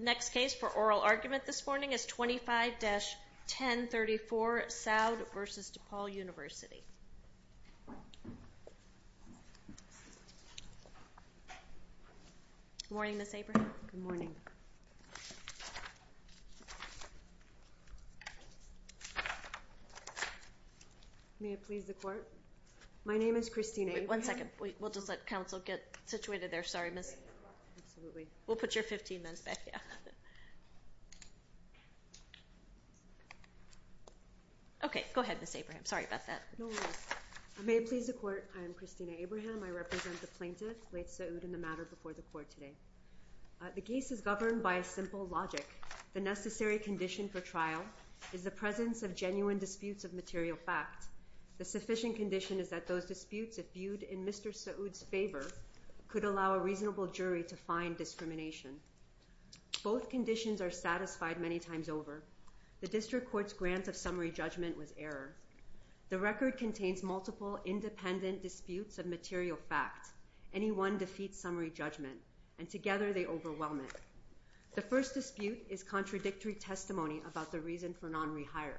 The next case for oral argument this morning is 25-1034, Saud v. DePaul University The case is governed by a simple logic. The necessary condition for trial is the presence of genuine disputes of material fact. The sufficient condition is that those disputes, if viewed in Mr. Saud's favor, could allow a reasonable jury to find discrimination. Both conditions are satisfied many times over. The District Court's grant of summary judgment was error. The record contains multiple independent disputes of material fact. Any one defeats summary judgment, and together they overwhelm it. The first dispute is contradictory testimony about the reason for non-rehire.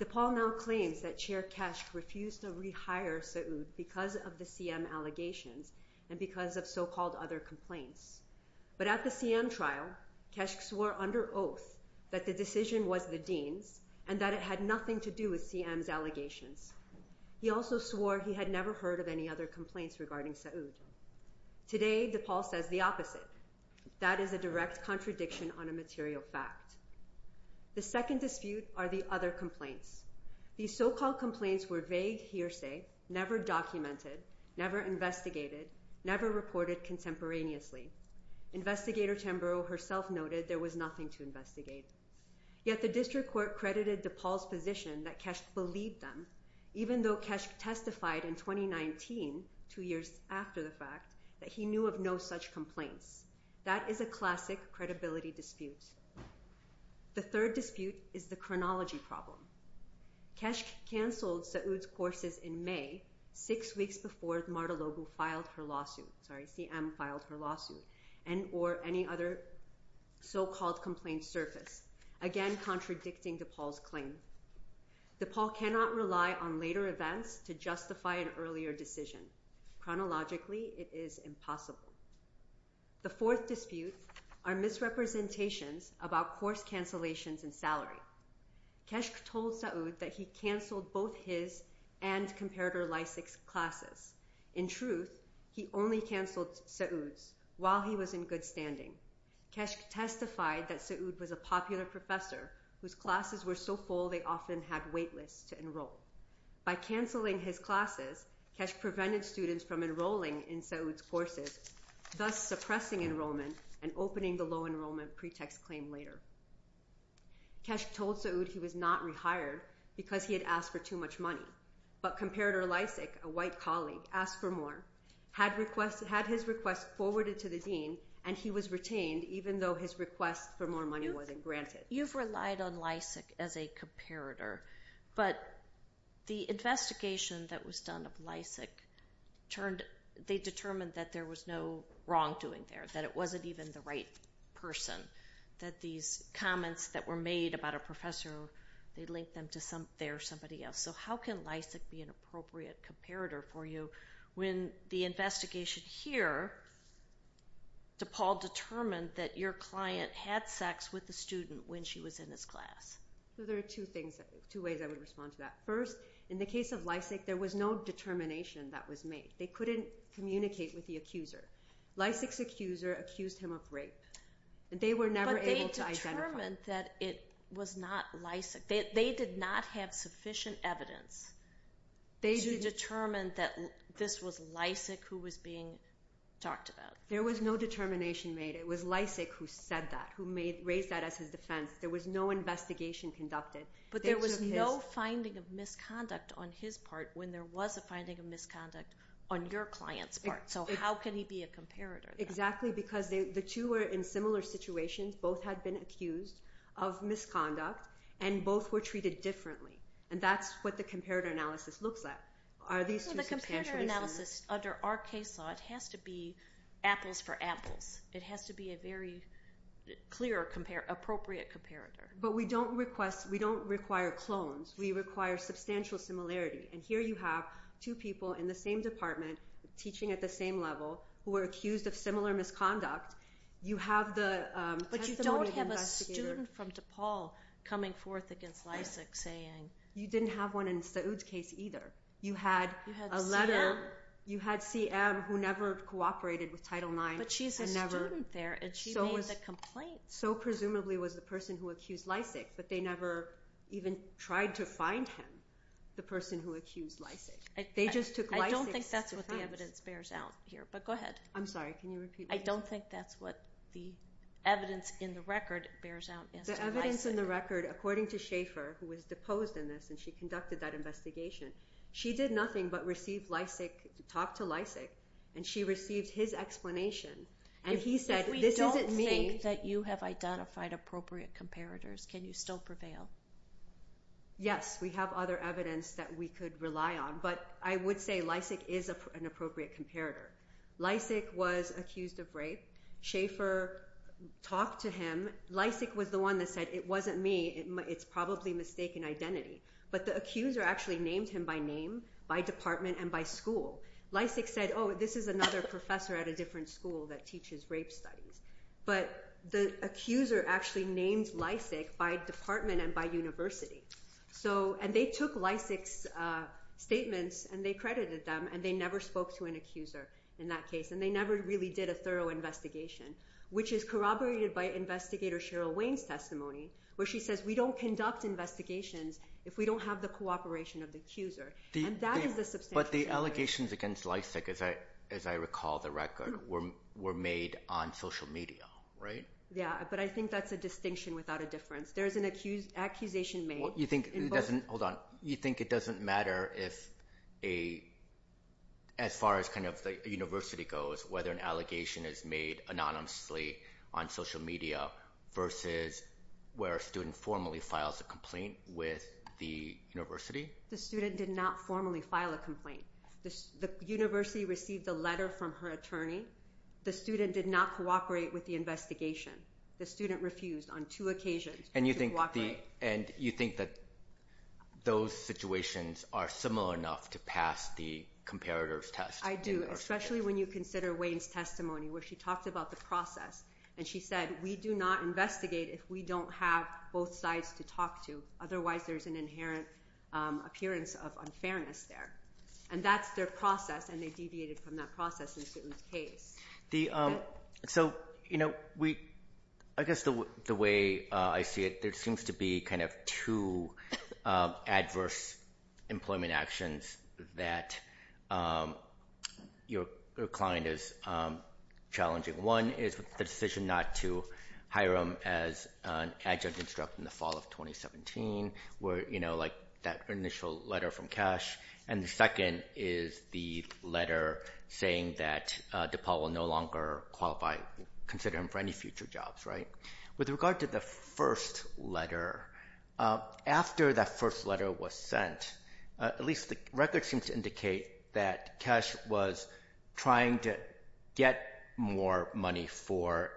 DePaul now claims that Chair Kesch refused to rehire Saud because of the CM allegations and because of so-called other complaints. But at the CM trial, Kesch swore under oath that the decision was the Dean's and that it had nothing to do with CM's allegations. He also swore he had never heard of any other complaints regarding Saud. Today, DePaul says the opposite. That is a direct contradiction on a material fact. The second dispute are the other complaints. These so-called complaints were vague hearsay, never documented, never investigated, never reported contemporaneously. Investigator Tamburo herself noted there was nothing to investigate. Yet the District Court credited DePaul's position that Kesch believed them, even though Kesch testified in 2019, two years after the fact, that he knew of no such complaints. That is a classic credibility dispute. The third dispute is the chronology problem. Kesch canceled Saud's courses in May, six weeks before Marta Lobu filed her lawsuit, sorry, CM filed her lawsuit, and or any other so-called complaints surfaced, again contradicting DePaul's claim. DePaul cannot rely on later events to justify an earlier decision. Chronologically, it is impossible. The fourth dispute are misrepresentations about course cancellations and salary. Kesch told Saud that he canceled both his and Comparator Lysak's classes. In truth, he only canceled Saud's while he was in good standing. Kesch testified that Saud was a popular professor whose classes were so full they often had wait lists to enroll. By canceling his classes, Kesch prevented students from enrolling in Saud's courses, thus suppressing enrollment and opening the low enrollment pretext claim later. Kesch told Saud he was not rehired because he had asked for too much money, but Comparator Lysak, a white colleague, asked for more, had his request forwarded to the dean, and he was retained even though his request for more money wasn't granted. You've relied on Lysak as a comparator, but the investigation that was done of Lysak turned, they determined that there was no wrongdoing there, that it wasn't even the right person, that these comments that were made about a professor, they linked them to somebody else. So how can Lysak be an appropriate comparator for you when the investigation here to Paul determined that your client had sex with the student when she was in his class? There are two things, two ways I would respond to that. First, in the case of Lysak, there was no determination that was made. They couldn't communicate with the accuser. Lysak's accuser accused him of rape. They were never able to identify him. But they determined that it was not Lysak. They did not have sufficient evidence to determine that this was Lysak who was being talked about. There was no determination made. It was Lysak who said that, who raised that as his defense. There was no investigation conducted. But there was no finding of misconduct on his part when there was a finding of misconduct on your client's part. So how can he be a comparator? Exactly, because the two were in similar situations. Both had been accused of misconduct. And both were treated differently. And that's what the comparator analysis looks at. Are these two substantial differences? The comparator analysis under our case law, it has to be apples for apples. It has to be a very clear, appropriate comparator. But we don't require clones. We require substantial similarity. And here you have two people in the same department, teaching at the same level, who are accused of similar misconduct. But you don't have a student from DePaul coming forth against Lysak saying... You didn't have one in Saoud's case either. You had CM who never cooperated with Title IX. But she's a student there, and she made the complaint. So presumably was the person who accused Lysak. But they never even tried to find him, the person who accused Lysak. They just took Lysak's defense. I don't think that's what the evidence bears out here. But go ahead. I'm sorry, can you repeat that? I don't think that's what the evidence in the record bears out as to Lysak. The evidence in the record, according to Schaefer, who was deposed in this, and she conducted that investigation, she did nothing but receive Lysak, talk to Lysak. And she received his explanation. If we don't think that you have identified appropriate comparators, can you still prevail? Yes, we have other evidence that we could rely on. But I would say Lysak is an appropriate comparator. Lysak was accused of rape. Schaefer talked to him. Lysak was the one that said, it wasn't me, it's probably mistaken identity. But the accuser actually named him by name, by department, and by school. Lysak said, oh, this is another professor at a different school that teaches rape studies. But the accuser actually named Lysak by department and by university. And they took Lysak's statements, and they credited them, and they never spoke to an accuser in that case. And they never really did a thorough investigation, which is corroborated by Investigator Cheryl Wayne's testimony, where she says, we don't conduct investigations if we don't have the cooperation of the accuser. But the allegations against Lysak, as I recall the record, were made on social media, right? Yeah, but I think that's a distinction without a difference. There's an accusation made. You think it doesn't matter if, as far as the university goes, whether an allegation is made anonymously on social media versus where a student formally files a complaint with the university? The student did not formally file a complaint. The university received a letter from her attorney. The student did not cooperate with the investigation. The student refused on two occasions to cooperate. And you think that those situations are similar enough to pass the comparators test? I do, especially when you consider Wayne's testimony, where she talked about the process. And she said, we do not investigate if we don't have both sides to talk to. Otherwise, there's an inherent appearance of unfairness there. And that's their process, and they deviated from that process in Sue's case. So, you know, I guess the way I see it, there seems to be kind of two adverse employment actions that your client is challenging. One is the decision not to hire him as an adjunct instructor in the fall of 2017, where, you know, like that initial letter from Kesh. And the second is the letter saying that DePaul will no longer qualify, consider him for any future jobs, right? With regard to the first letter, after that first letter was sent, at least the record seems to indicate that Kesh was trying to get more money for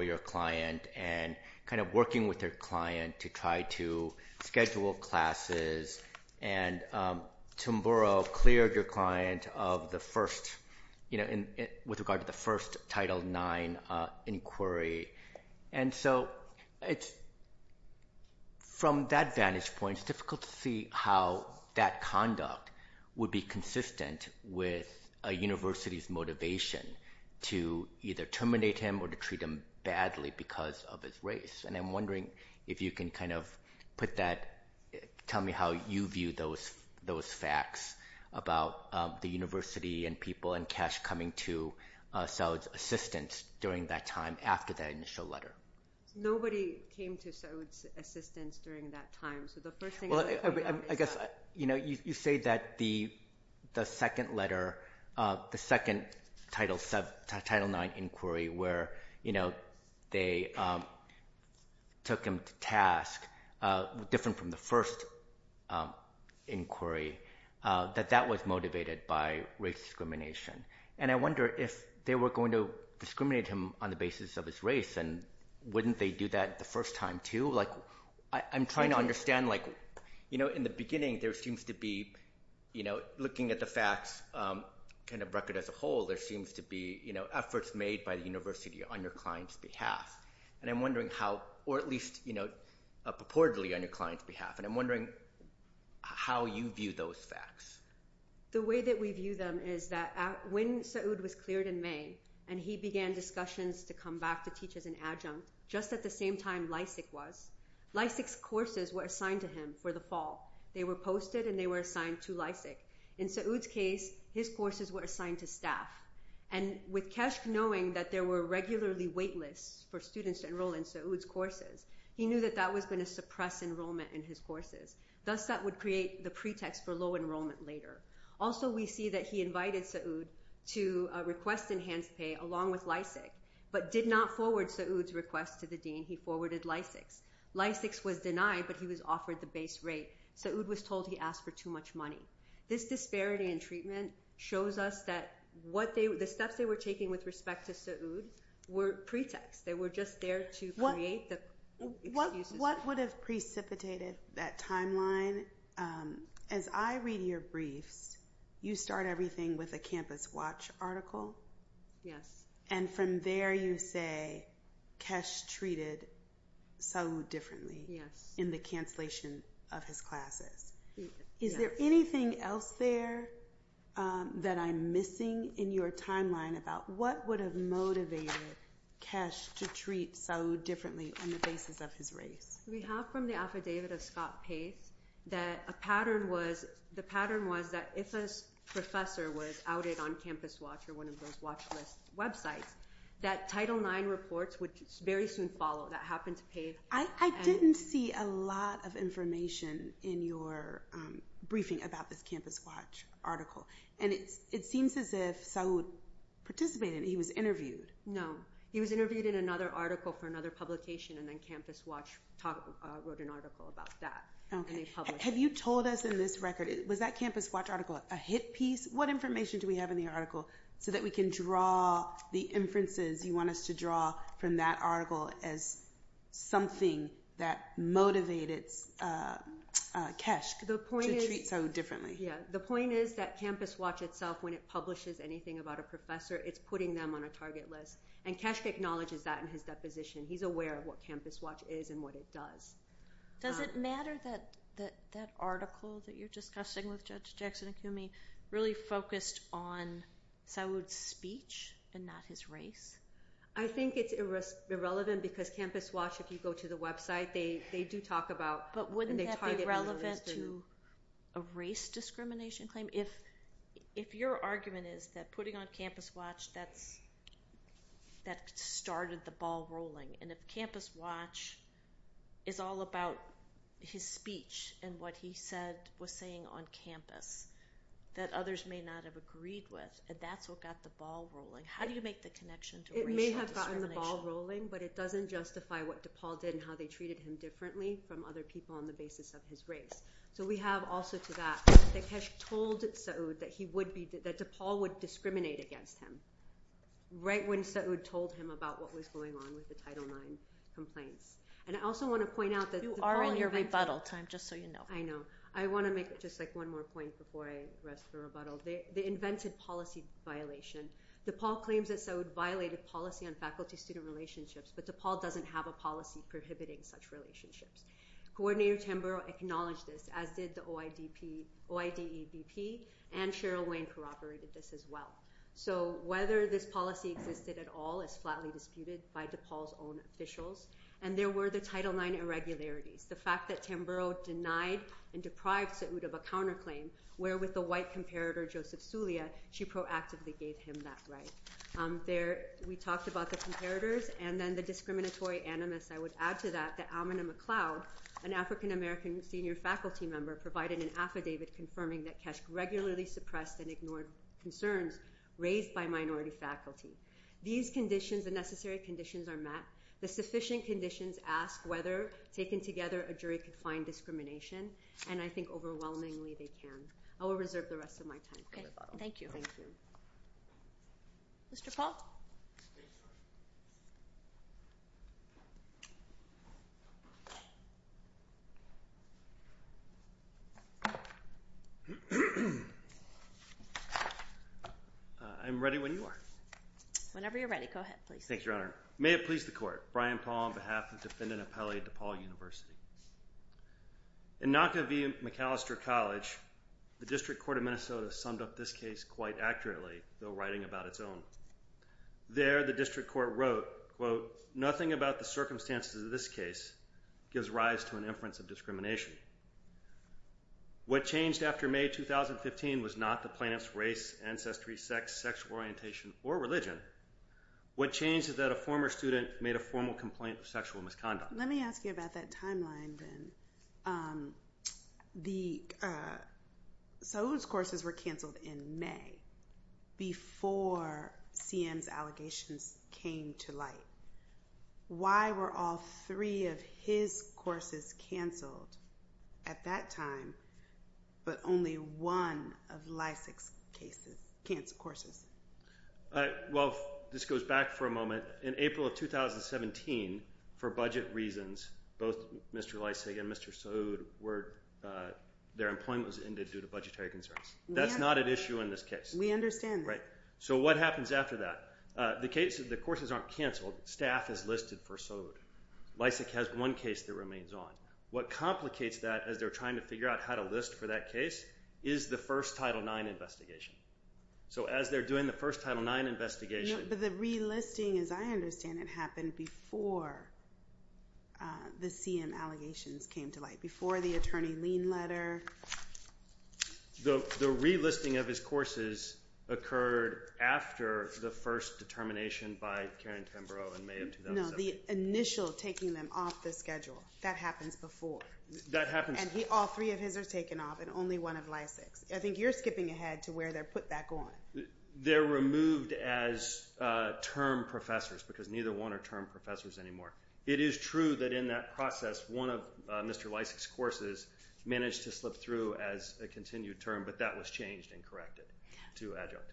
your client and kind of working with their client to try to schedule classes. And Tim Burrow cleared your client of the first, you know, with regard to the first Title IX inquiry. And so it's, from that vantage point, it's difficult to see how that conduct would be consistent with a university's motivation to either terminate him or to treat him badly because of his race. And I'm wondering if you can kind of put that, tell me how you view those facts about the university and people and Kesh coming to Saud's assistance during that time, after that initial letter. Nobody came to Saud's assistance during that time. Well, I guess, you know, you say that the second letter, the second Title IX inquiry, where, you know, they took him to task, different from the first inquiry, that that was motivated by race discrimination. And I wonder if they were going to discriminate him on the basis of his race and wouldn't they do that the first time too? Like, I'm trying to understand, like, you know, in the beginning there seems to be, you know, looking at the facts, kind of record as a whole, there seems to be, you know, efforts made by the university on your client's behalf. And I'm wondering how, or at least, you know, purportedly on your client's behalf. And I'm wondering how you view those facts. The way that we view them is that when Saud was cleared in May and he began discussions to come back to teach as an adjunct just at the same time Lysak was, Lysak's courses were assigned to him for the fall. They were posted and they were assigned to Lysak. In Saud's case, his courses were assigned to staff. And with Keshk knowing that there were regularly wait lists for students to enroll in Saud's courses, he knew that that was going to suppress enrollment in his courses. Thus, that would create the pretext for low enrollment later. Also, we see that he invited Saud to request enhanced pay along with Lysak, but did not forward Saud's request to the dean. He forwarded Lysak's. Lysak's was denied, but he was offered the base rate. Saud was told he asked for too much money. This disparity in treatment shows us that the steps they were taking with respect to Saud were pretext. They were just there to create the excuses. What would have precipitated that timeline? As I read your briefs, you start everything with a Campus Watch article. Yes. And from there you say Keshk treated Saud differently in the cancellation of his classes. Yes. Is there anything else there that I'm missing in your timeline about what would have motivated Keshk to treat Saud differently on the basis of his race? We have from the affidavit of Scott Pace that the pattern was that if a professor was outed on Campus Watch or one of those watch list websites, that Title IX reports would very soon follow. That happened to Pace. I didn't see a lot of information in your briefing about this Campus Watch article. And it seems as if Saud participated. He was interviewed. No. He was interviewed in another article for another publication, and then Campus Watch wrote an article about that. Have you told us in this record, was that Campus Watch article a hit piece? What information do we have in the article so that we can draw the inferences you want us to draw from that article as something that motivated Keshk to treat Saud differently? The point is that Campus Watch itself, when it publishes anything about a professor, it's putting them on a target list. And Keshk acknowledges that in his deposition. He's aware of what Campus Watch is and what it does. Does it matter that that article that you're discussing with Judge Jackson-Akumi really focused on Saud's speech and not his race? I think it's irrelevant because Campus Watch, if you go to the website, they do talk about – But wouldn't that be relevant to a race discrimination claim? If your argument is that putting on Campus Watch, that started the ball rolling. And if Campus Watch is all about his speech and what he was saying on campus, that others may not have agreed with, that's what got the ball rolling. How do you make the connection to racial discrimination? It may have gotten the ball rolling, but it doesn't justify what DePaul did and how they treated him differently from other people on the basis of his race. So we have also to that that Keshk told Saud that DePaul would discriminate against him right when Saud told him about what was going on with the Title IX complaints. And I also want to point out that – You are in your rebuttal time, just so you know. I know. I want to make just one more point before I rest the rebuttal. They invented policy violation. DePaul claims that Saud violated policy on faculty-student relationships, but DePaul doesn't have a policy prohibiting such relationships. Coordinator Tamburo acknowledged this, as did the OIDEP, and Cheryl Wayne corroborated this as well. So whether this policy existed at all is flatly disputed by DePaul's own officials. And there were the Title IX irregularities. The fact that Tamburo denied and deprived Saud of a counterclaim, where with the white comparator Joseph Sulia, she proactively gave him that right. We talked about the comparators, and then the discriminatory animus. I would add to that that Almena McLeod, an African-American senior faculty member, provided an affidavit confirming that Keshk regularly suppressed and ignored concerns raised by minority faculty. These conditions, the necessary conditions, are met. The sufficient conditions ask whether, taken together, a jury can find discrimination, and I think overwhelmingly they can. I will reserve the rest of my time for rebuttal. Thank you. Mr. Paul? I'm ready when you are. Whenever you're ready. Go ahead, please. Thank you, Your Honor. May it please the Court. Brian Paul on behalf of the defendant appellee at DePaul University. In Naka V. McAllister College, the District Court of Minnesota summed up this case quite accurately, though writing about its own. There, the District Court wrote, quote, nothing about the circumstances of this case gives rise to an inference of discrimination. What changed after May 2015 was not the plaintiff's race, ancestry, sex, sexual orientation, or religion. What changed is that a former student made a formal complaint of sexual misconduct. Let me ask you about that timeline, then. Um, the, uh, Saul's courses were canceled in May before CM's allegations came to light. Why were all three of his courses canceled at that time, but only one of Lysak's cases, courses? Uh, well, this goes back for a moment. In April of 2017, for budget reasons, both Mr. Lysak and Mr. Sode were, uh, their employment was ended due to budgetary concerns. That's not an issue in this case. We understand. Right. So what happens after that? Uh, the cases, the courses aren't canceled. Staff is listed for Sode. Lysak has one case that remains on. What complicates that, as they're trying to figure out how to list for that case, is the first Title IX investigation. So as they're doing the first Title IX investigation. No, but the relisting, as I understand, it happened before, uh, the CM allegations came to light. Before the attorney lien letter. The, the relisting of his courses occurred after the first determination by Karen Tamburo in May of 2017. No, the initial taking them off the schedule. That happens before. That happens. And he, all three of his are taken off, and only one of Lysak's. I think you're skipping ahead to where they're put back on. They're removed as, uh, term professors, because neither one are term professors anymore. It is true that in that process, one of, uh, Mr. Lysak's courses managed to slip through as a continued term, but that was changed and corrected to adjunct.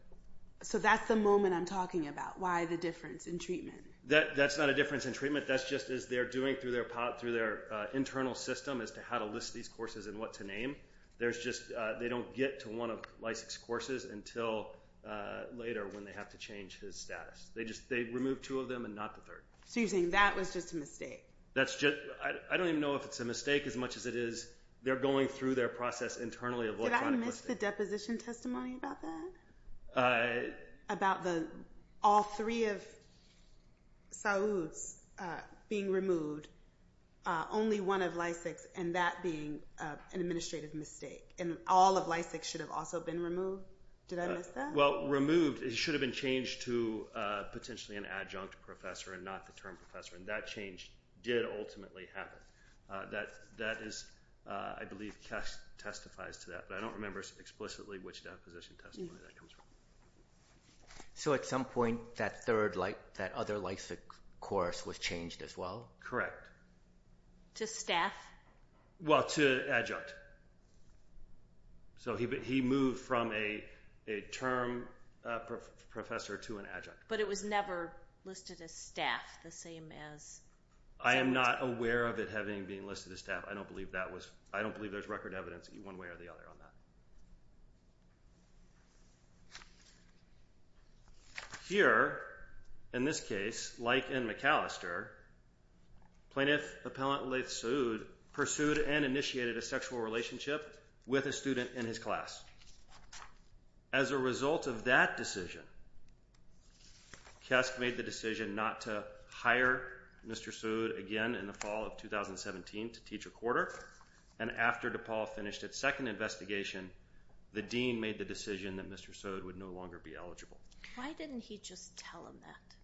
So that's the moment I'm talking about. Why the difference in treatment? That, that's not a difference in treatment. That's just as they're doing through their pot, through their, uh, internal system as to how to list these courses and what to name. There's just, uh, they don't get to one of Lysak's courses until, uh, later when they have to change his status. They just, they remove two of them and not the third. So you're saying that was just a mistake? That's just, I, I don't even know if it's a mistake as much as it is they're going through their process internally. Did I miss the deposition testimony about that? Uh... About the, all three of Saoud's, uh, being removed, uh, only one of Lysak's, and that being, uh, an administrative mistake. And all of Lysak's should have also been removed? Did I miss that? Well, removed, it should have been changed to, uh, potentially an adjunct professor and not the term professor, and that change did ultimately happen. Uh, that, that is, uh, I believe Cass testifies to that, but I don't remember explicitly which deposition testimony that comes from. So at some point, that third, like, that other Lysak course was changed as well? Correct. To staff? Well, to adjunct. So he, he moved from a, a term, uh, professor to an adjunct. But it was never listed as staff the same as... I am not aware of it having being listed as staff. I don't believe that was, I don't believe there's record evidence one way or the other on that. Here, in this case, like in McAllister, plaintiff appellant Laith Saud pursued and initiated a sexual relationship with a student in his class. As a result of that decision, Kesk made the decision not to hire Mr. Saud again in the fall of 2017 to teach a quarter, and after DePaul finished its second investigation, the dean made the decision that Mr. Saud would no longer be eligible. Why didn't he just tell him that?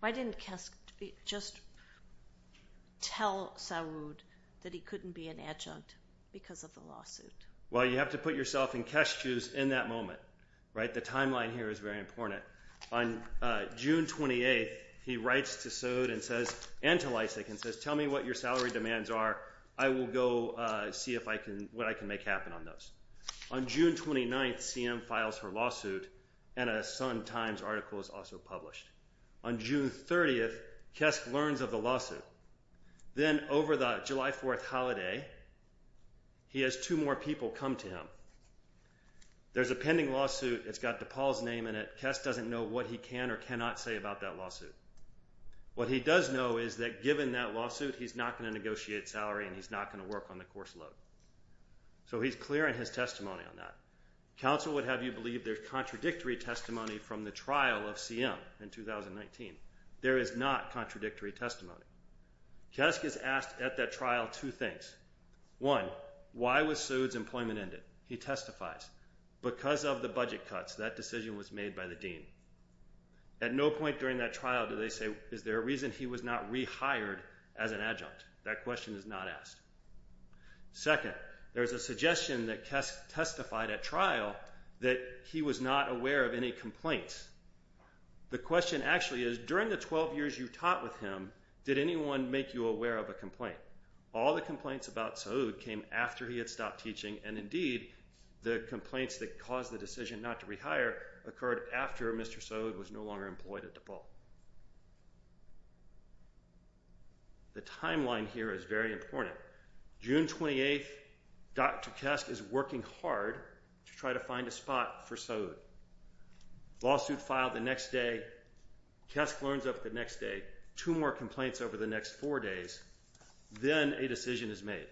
Why didn't Kesk just tell Saud that he couldn't be an adjunct because of the lawsuit? Well, you have to put yourself in Kesk's shoes in that moment, right? The timeline here is very important. On June 28th, he writes to Saud and says, and to Lysak, and says, tell me what your salary demands are. I will go, uh, see if I can, what I can make happen on those. On June 29th, CM files her lawsuit, and a Times article is also published. On June 30th, Kesk learns of the lawsuit. Then over the July 4th holiday, he has two more people come to him. There's a pending lawsuit. It's got DePaul's name in it. Kesk doesn't know what he can or cannot say about that lawsuit. What he does know is that given that lawsuit, he's not going to negotiate salary and he's not going to work on the course load. So he's clear in his testimony on that. Counsel would have you believe there's contradictory testimony from the trial of CM in 2019. There is not contradictory testimony. Kesk is asked at that trial two things. One, why was Saud's employment ended? He testifies. Because of the budget cuts, that decision was made by the dean. At no point during that trial do they say, is there a reason he was not rehired as an adjunct? That question is not asked. Second, there's a suggestion that Kesk testified at trial that he was not aware of any complaints. The question actually is, during the 12 years you taught with him, did anyone make you aware of a complaint? All the complaints about Saud came after he had stopped teaching and indeed the complaints that caused the decision not to rehire occurred after Mr. Saud was no longer employed at The timeline here is very important. June 28th, Dr. Kesk is working hard to try to find a spot for Saud. Lawsuit filed the next day, Kesk learns of the next day, two more complaints over the next four days, then a decision is made.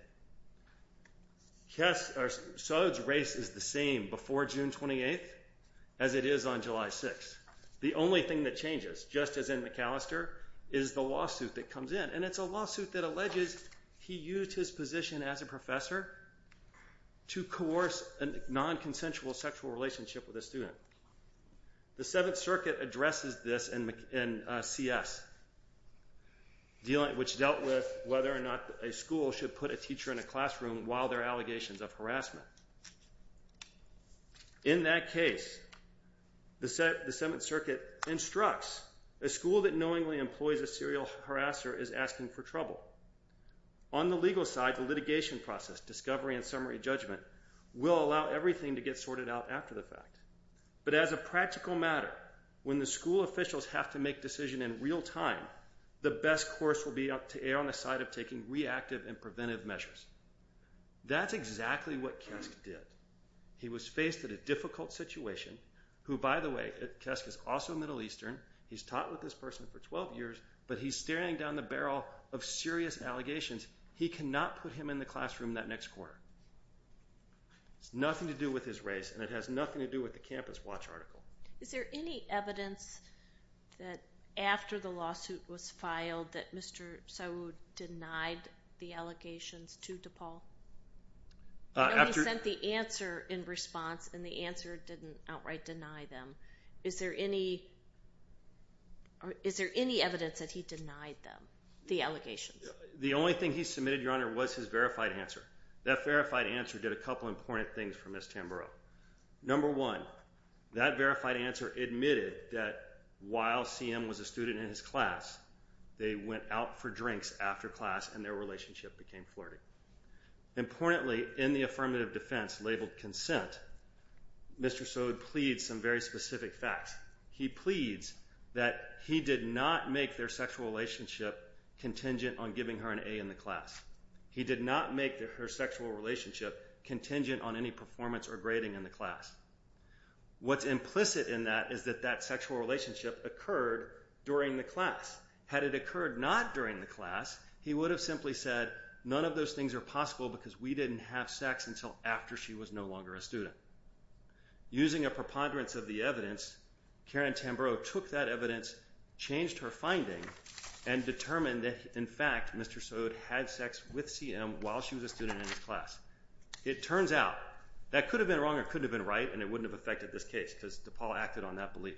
Kesk, or Saud's race is the same before June 28th as it is on July 6th. The only thing that changes, just as in McAllister, is the lawsuit that comes in, and it's a lawsuit that alleges he used his position as a professor to coerce a non-consensual sexual relationship with a student. The 7th Circuit addresses this in CS which dealt with whether or not a school should put a teacher in a classroom while there are allegations of harassment. In that case the 7th Circuit instructs a school that knowingly employs a serial harasser is asking for trouble. On the legal side, the litigation process, discovery and summary judgment will allow everything to get sorted out after the fact. But as a practical matter, when the school officials have to make decisions in real time, the best course will be to err on the side of taking reactive and preventive measures. That's exactly what Kesk did. He was faced with a difficult situation, who by the way Kesk is also Middle Eastern, he's taught with this person for 12 years, but he's staring down the barrel of serious allegations. He cannot put him in the classroom that next quarter. It has nothing to do with his race and it has nothing to do with the Campus Watch article. Is there any evidence that after the lawsuit was filed that Mr. Sowood denied the allegations to DePaul? Nobody sent the answer in response and the answer didn't outright deny them. Is there any evidence that he denied them, the allegations? The only thing he submitted, Your Honor, was his verified answer. That verified answer did a couple important things for Ms. Tamburo. Number one, that verified answer admitted that while CM was a student in his class, they went out for drinks after class and their relationship became flirty. Importantly, in the affirmative defense labeled consent, Mr. Sowood pleads some very specific facts. He pleads that he did not make their sexual relationship contingent on giving her an A in the class. He did not make her sexual relationship contingent on any performance or grading in the class. What's implicit in that is that that sexual relationship occurred during the class. Had it occurred not during the class, he would have simply said none of those things are possible because we didn't have sex until after she was no longer a student. Using a preponderance of the evidence, Karen Tamburo took that evidence, changed her finding and determined that, in fact, Mr. Sowood had sex with CM while she was a student in his class. It turns out, that could have been wrong or could have been right and it wouldn't have affected this case because DePaul acted on that belief.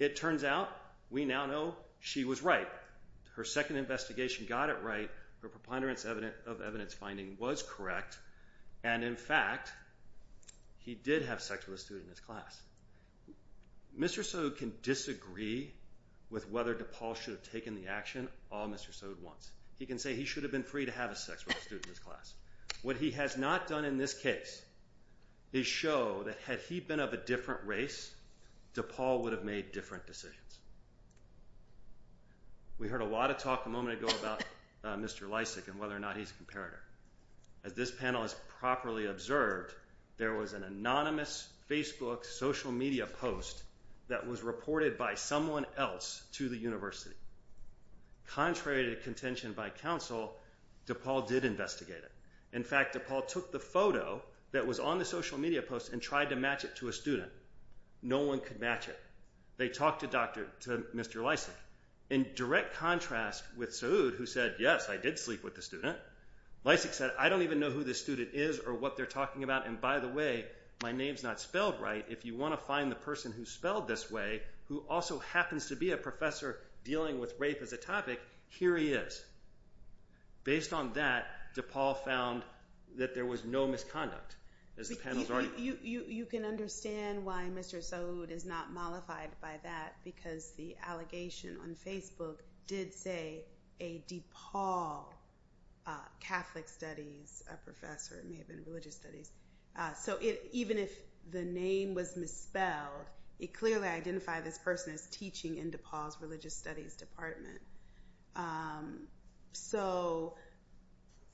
It turns out, we now know she was right. Her second investigation got it right. Her preponderance of evidence finding was correct and in fact he did have sex with a student in his class. Mr. Sowood can disagree with whether DePaul should have taken the action all Mr. Sowood wants. He can say he should have been free to have sex with a student in his class. What he has not done in this case is show that had he been of a different race, DePaul would have made different decisions. We heard a lot of talk a moment ago about Mr. Lysak and whether or not he's a comparator. As this panel has properly observed, there was an anonymous Facebook social media post that was reported by someone else to the university. Contrary to contention by counsel, DePaul did investigate it. In fact, DePaul took the photo that was on the social media post and tried to match it to a student. No one could match it. They talked to Mr. Lysak. In direct contrast with Sowood who said, Yes, I did sleep with the student. Lysak said, I don't even know who this student is or what they're talking about. By the way, my name's not spelled right. If you want to find the person who's spelled this way who also happens to be a professor dealing with rape as a topic, here he is. Based on that, DePaul found that there was no misconduct. You can understand why Mr. Sowood is not mollified by that because the allegation on Facebook did say a DePaul Catholic Studies professor. It may have been Religious Studies. Even if the name was misspelled, it clearly identified this person as teaching in DePaul's Religious Studies Department.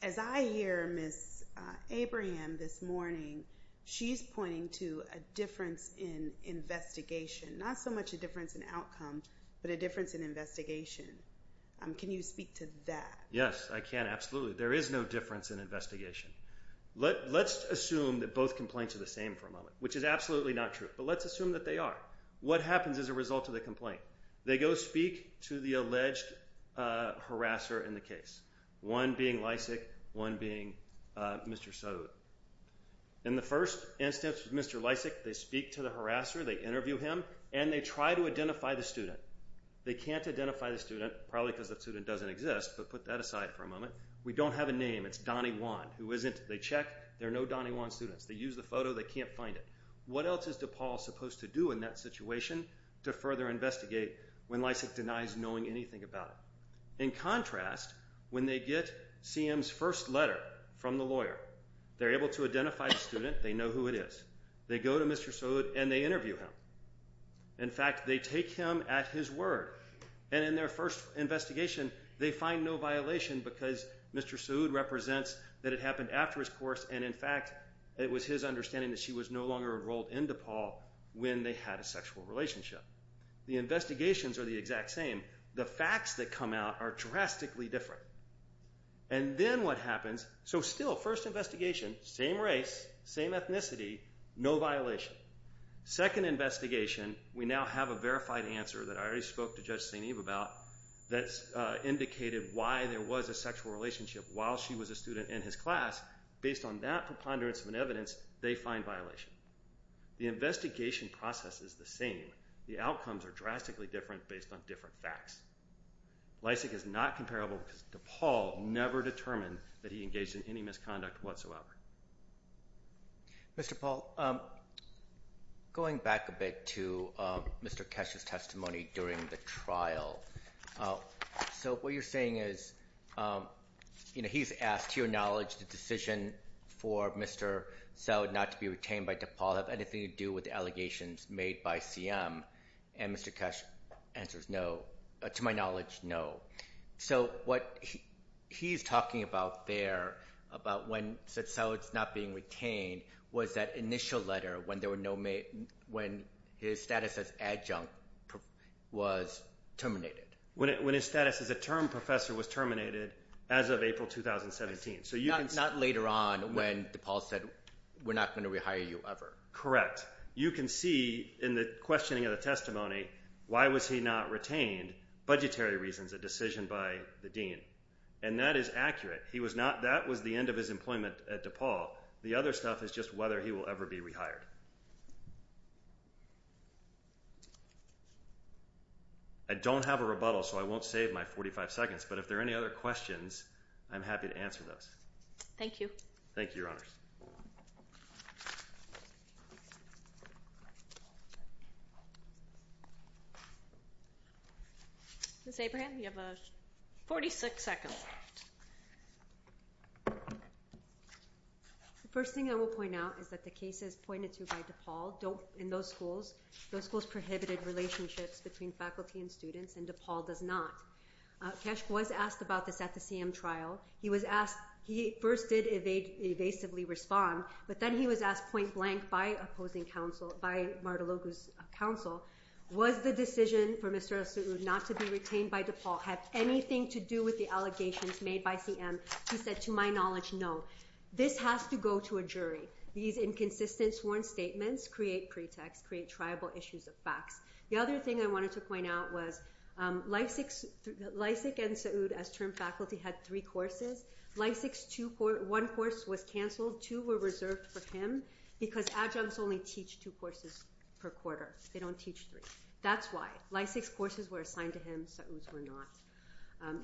As I hear Miss Abraham this morning, she's pointing to a difference in investigation. Not so much a difference in outcome, but a difference in investigation. Can you speak to that? Yes, I can. Absolutely. There is no difference in investigation. Let's assume that both complaints are the same for a moment, which is absolutely not true. Let's assume that they are. What happens as a result of the complaint? They go speak to the alleged harasser in the case. One being Lysak. One being Mr. Sowood. In the first instance, Mr. Lysak, they speak to the harasser. They interview him and they try to identify the student. They can't identify the student, probably because the student doesn't exist, but put that aside for a moment. We don't have a name. It's Donnie Wan, who isn't. They check. There are no Donnie Wan students. They use the photo. They can't find it. What else is DePaul supposed to do in that situation to further investigate when Lysak denies knowing anything about it? In contrast, when they get CM's first letter from the lawyer, they're able to identify the student. They know who it is. They go to Mr. Sowood and they interview him. In fact, they take him at his word. And in their first investigation, they find no violation because Mr. Sowood represents that it happened after his course and in fact it was his understanding that she was no longer enrolled in DePaul when they had a sexual relationship. The investigations are the exact same. The facts that come out are drastically different. And then what happens? So still, first investigation, same race, same ethnicity, no violation. Second investigation, we now have a verified answer that I already spoke to Judge St. Eve about that's indicated why there was a sexual relationship while she was a student in his class. Based on that preponderance of an evidence, they find violation. The investigation process is the same. The outcomes are drastically different based on different facts. Lysak is not comparable because DePaul never determined that he engaged in any misconduct whatsoever. Mr. Paul, going back a bit to Mr. Keshe's testimony during the trial, so what you're saying is he's asked, to your knowledge, the decision for Mr. Sowood not to be retained by DePaul have anything to do with allegations made by CM and Mr. Keshe answers no, to my knowledge, no. So what he's talking about there, about when he said Sowood's not being retained, was that initial letter when his status as adjunct was terminated. When his status as a term professor was terminated as of April 2017. Not later on when DePaul said we're not going to rehire you ever. Correct. You can see in the questioning of the testimony why was he not retained, budgetary reasons, a decision by the Dean. And that is accurate. That was the end of his employment at DePaul. The other stuff is just whether he will ever be rehired. I don't have a rebuttal so I won't save my 45 seconds but if there are any other questions I'm happy to answer those. Thank you. Thank you, Your Honors. Ms. Abraham, you have 46 seconds. The first thing I will point out is that the cases pointed to by DePaul don't, in those schools, those schools prohibited relationships between faculty and students and DePaul does not. Keshe was asked about this at the CM trial. He was asked, he first did evasively request that he be rehired but then he was asked point blank by opposing counsel, by Martalogo's counsel, was the decision for Mr. El-Saoud not to be retained by DePaul have anything to do with the allegations made by CM? He said, to my knowledge, no. This has to go to a jury. These inconsistent sworn statements create pretext, create tribal issues of facts. The other thing I wanted to point out was Lysak and Saoud as term faculty had three courses. Lysak's one course was canceled, two were reserved for him because adjuncts only teach two courses per quarter. They don't teach three. That's why. Lysak's courses were assigned to him Saoud's were not.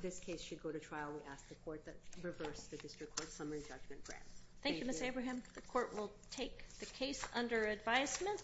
This case should go to trial. We ask the court to reverse the district court summary judgment grant. Thank you Ms. Abraham. The court will take the case under advisement.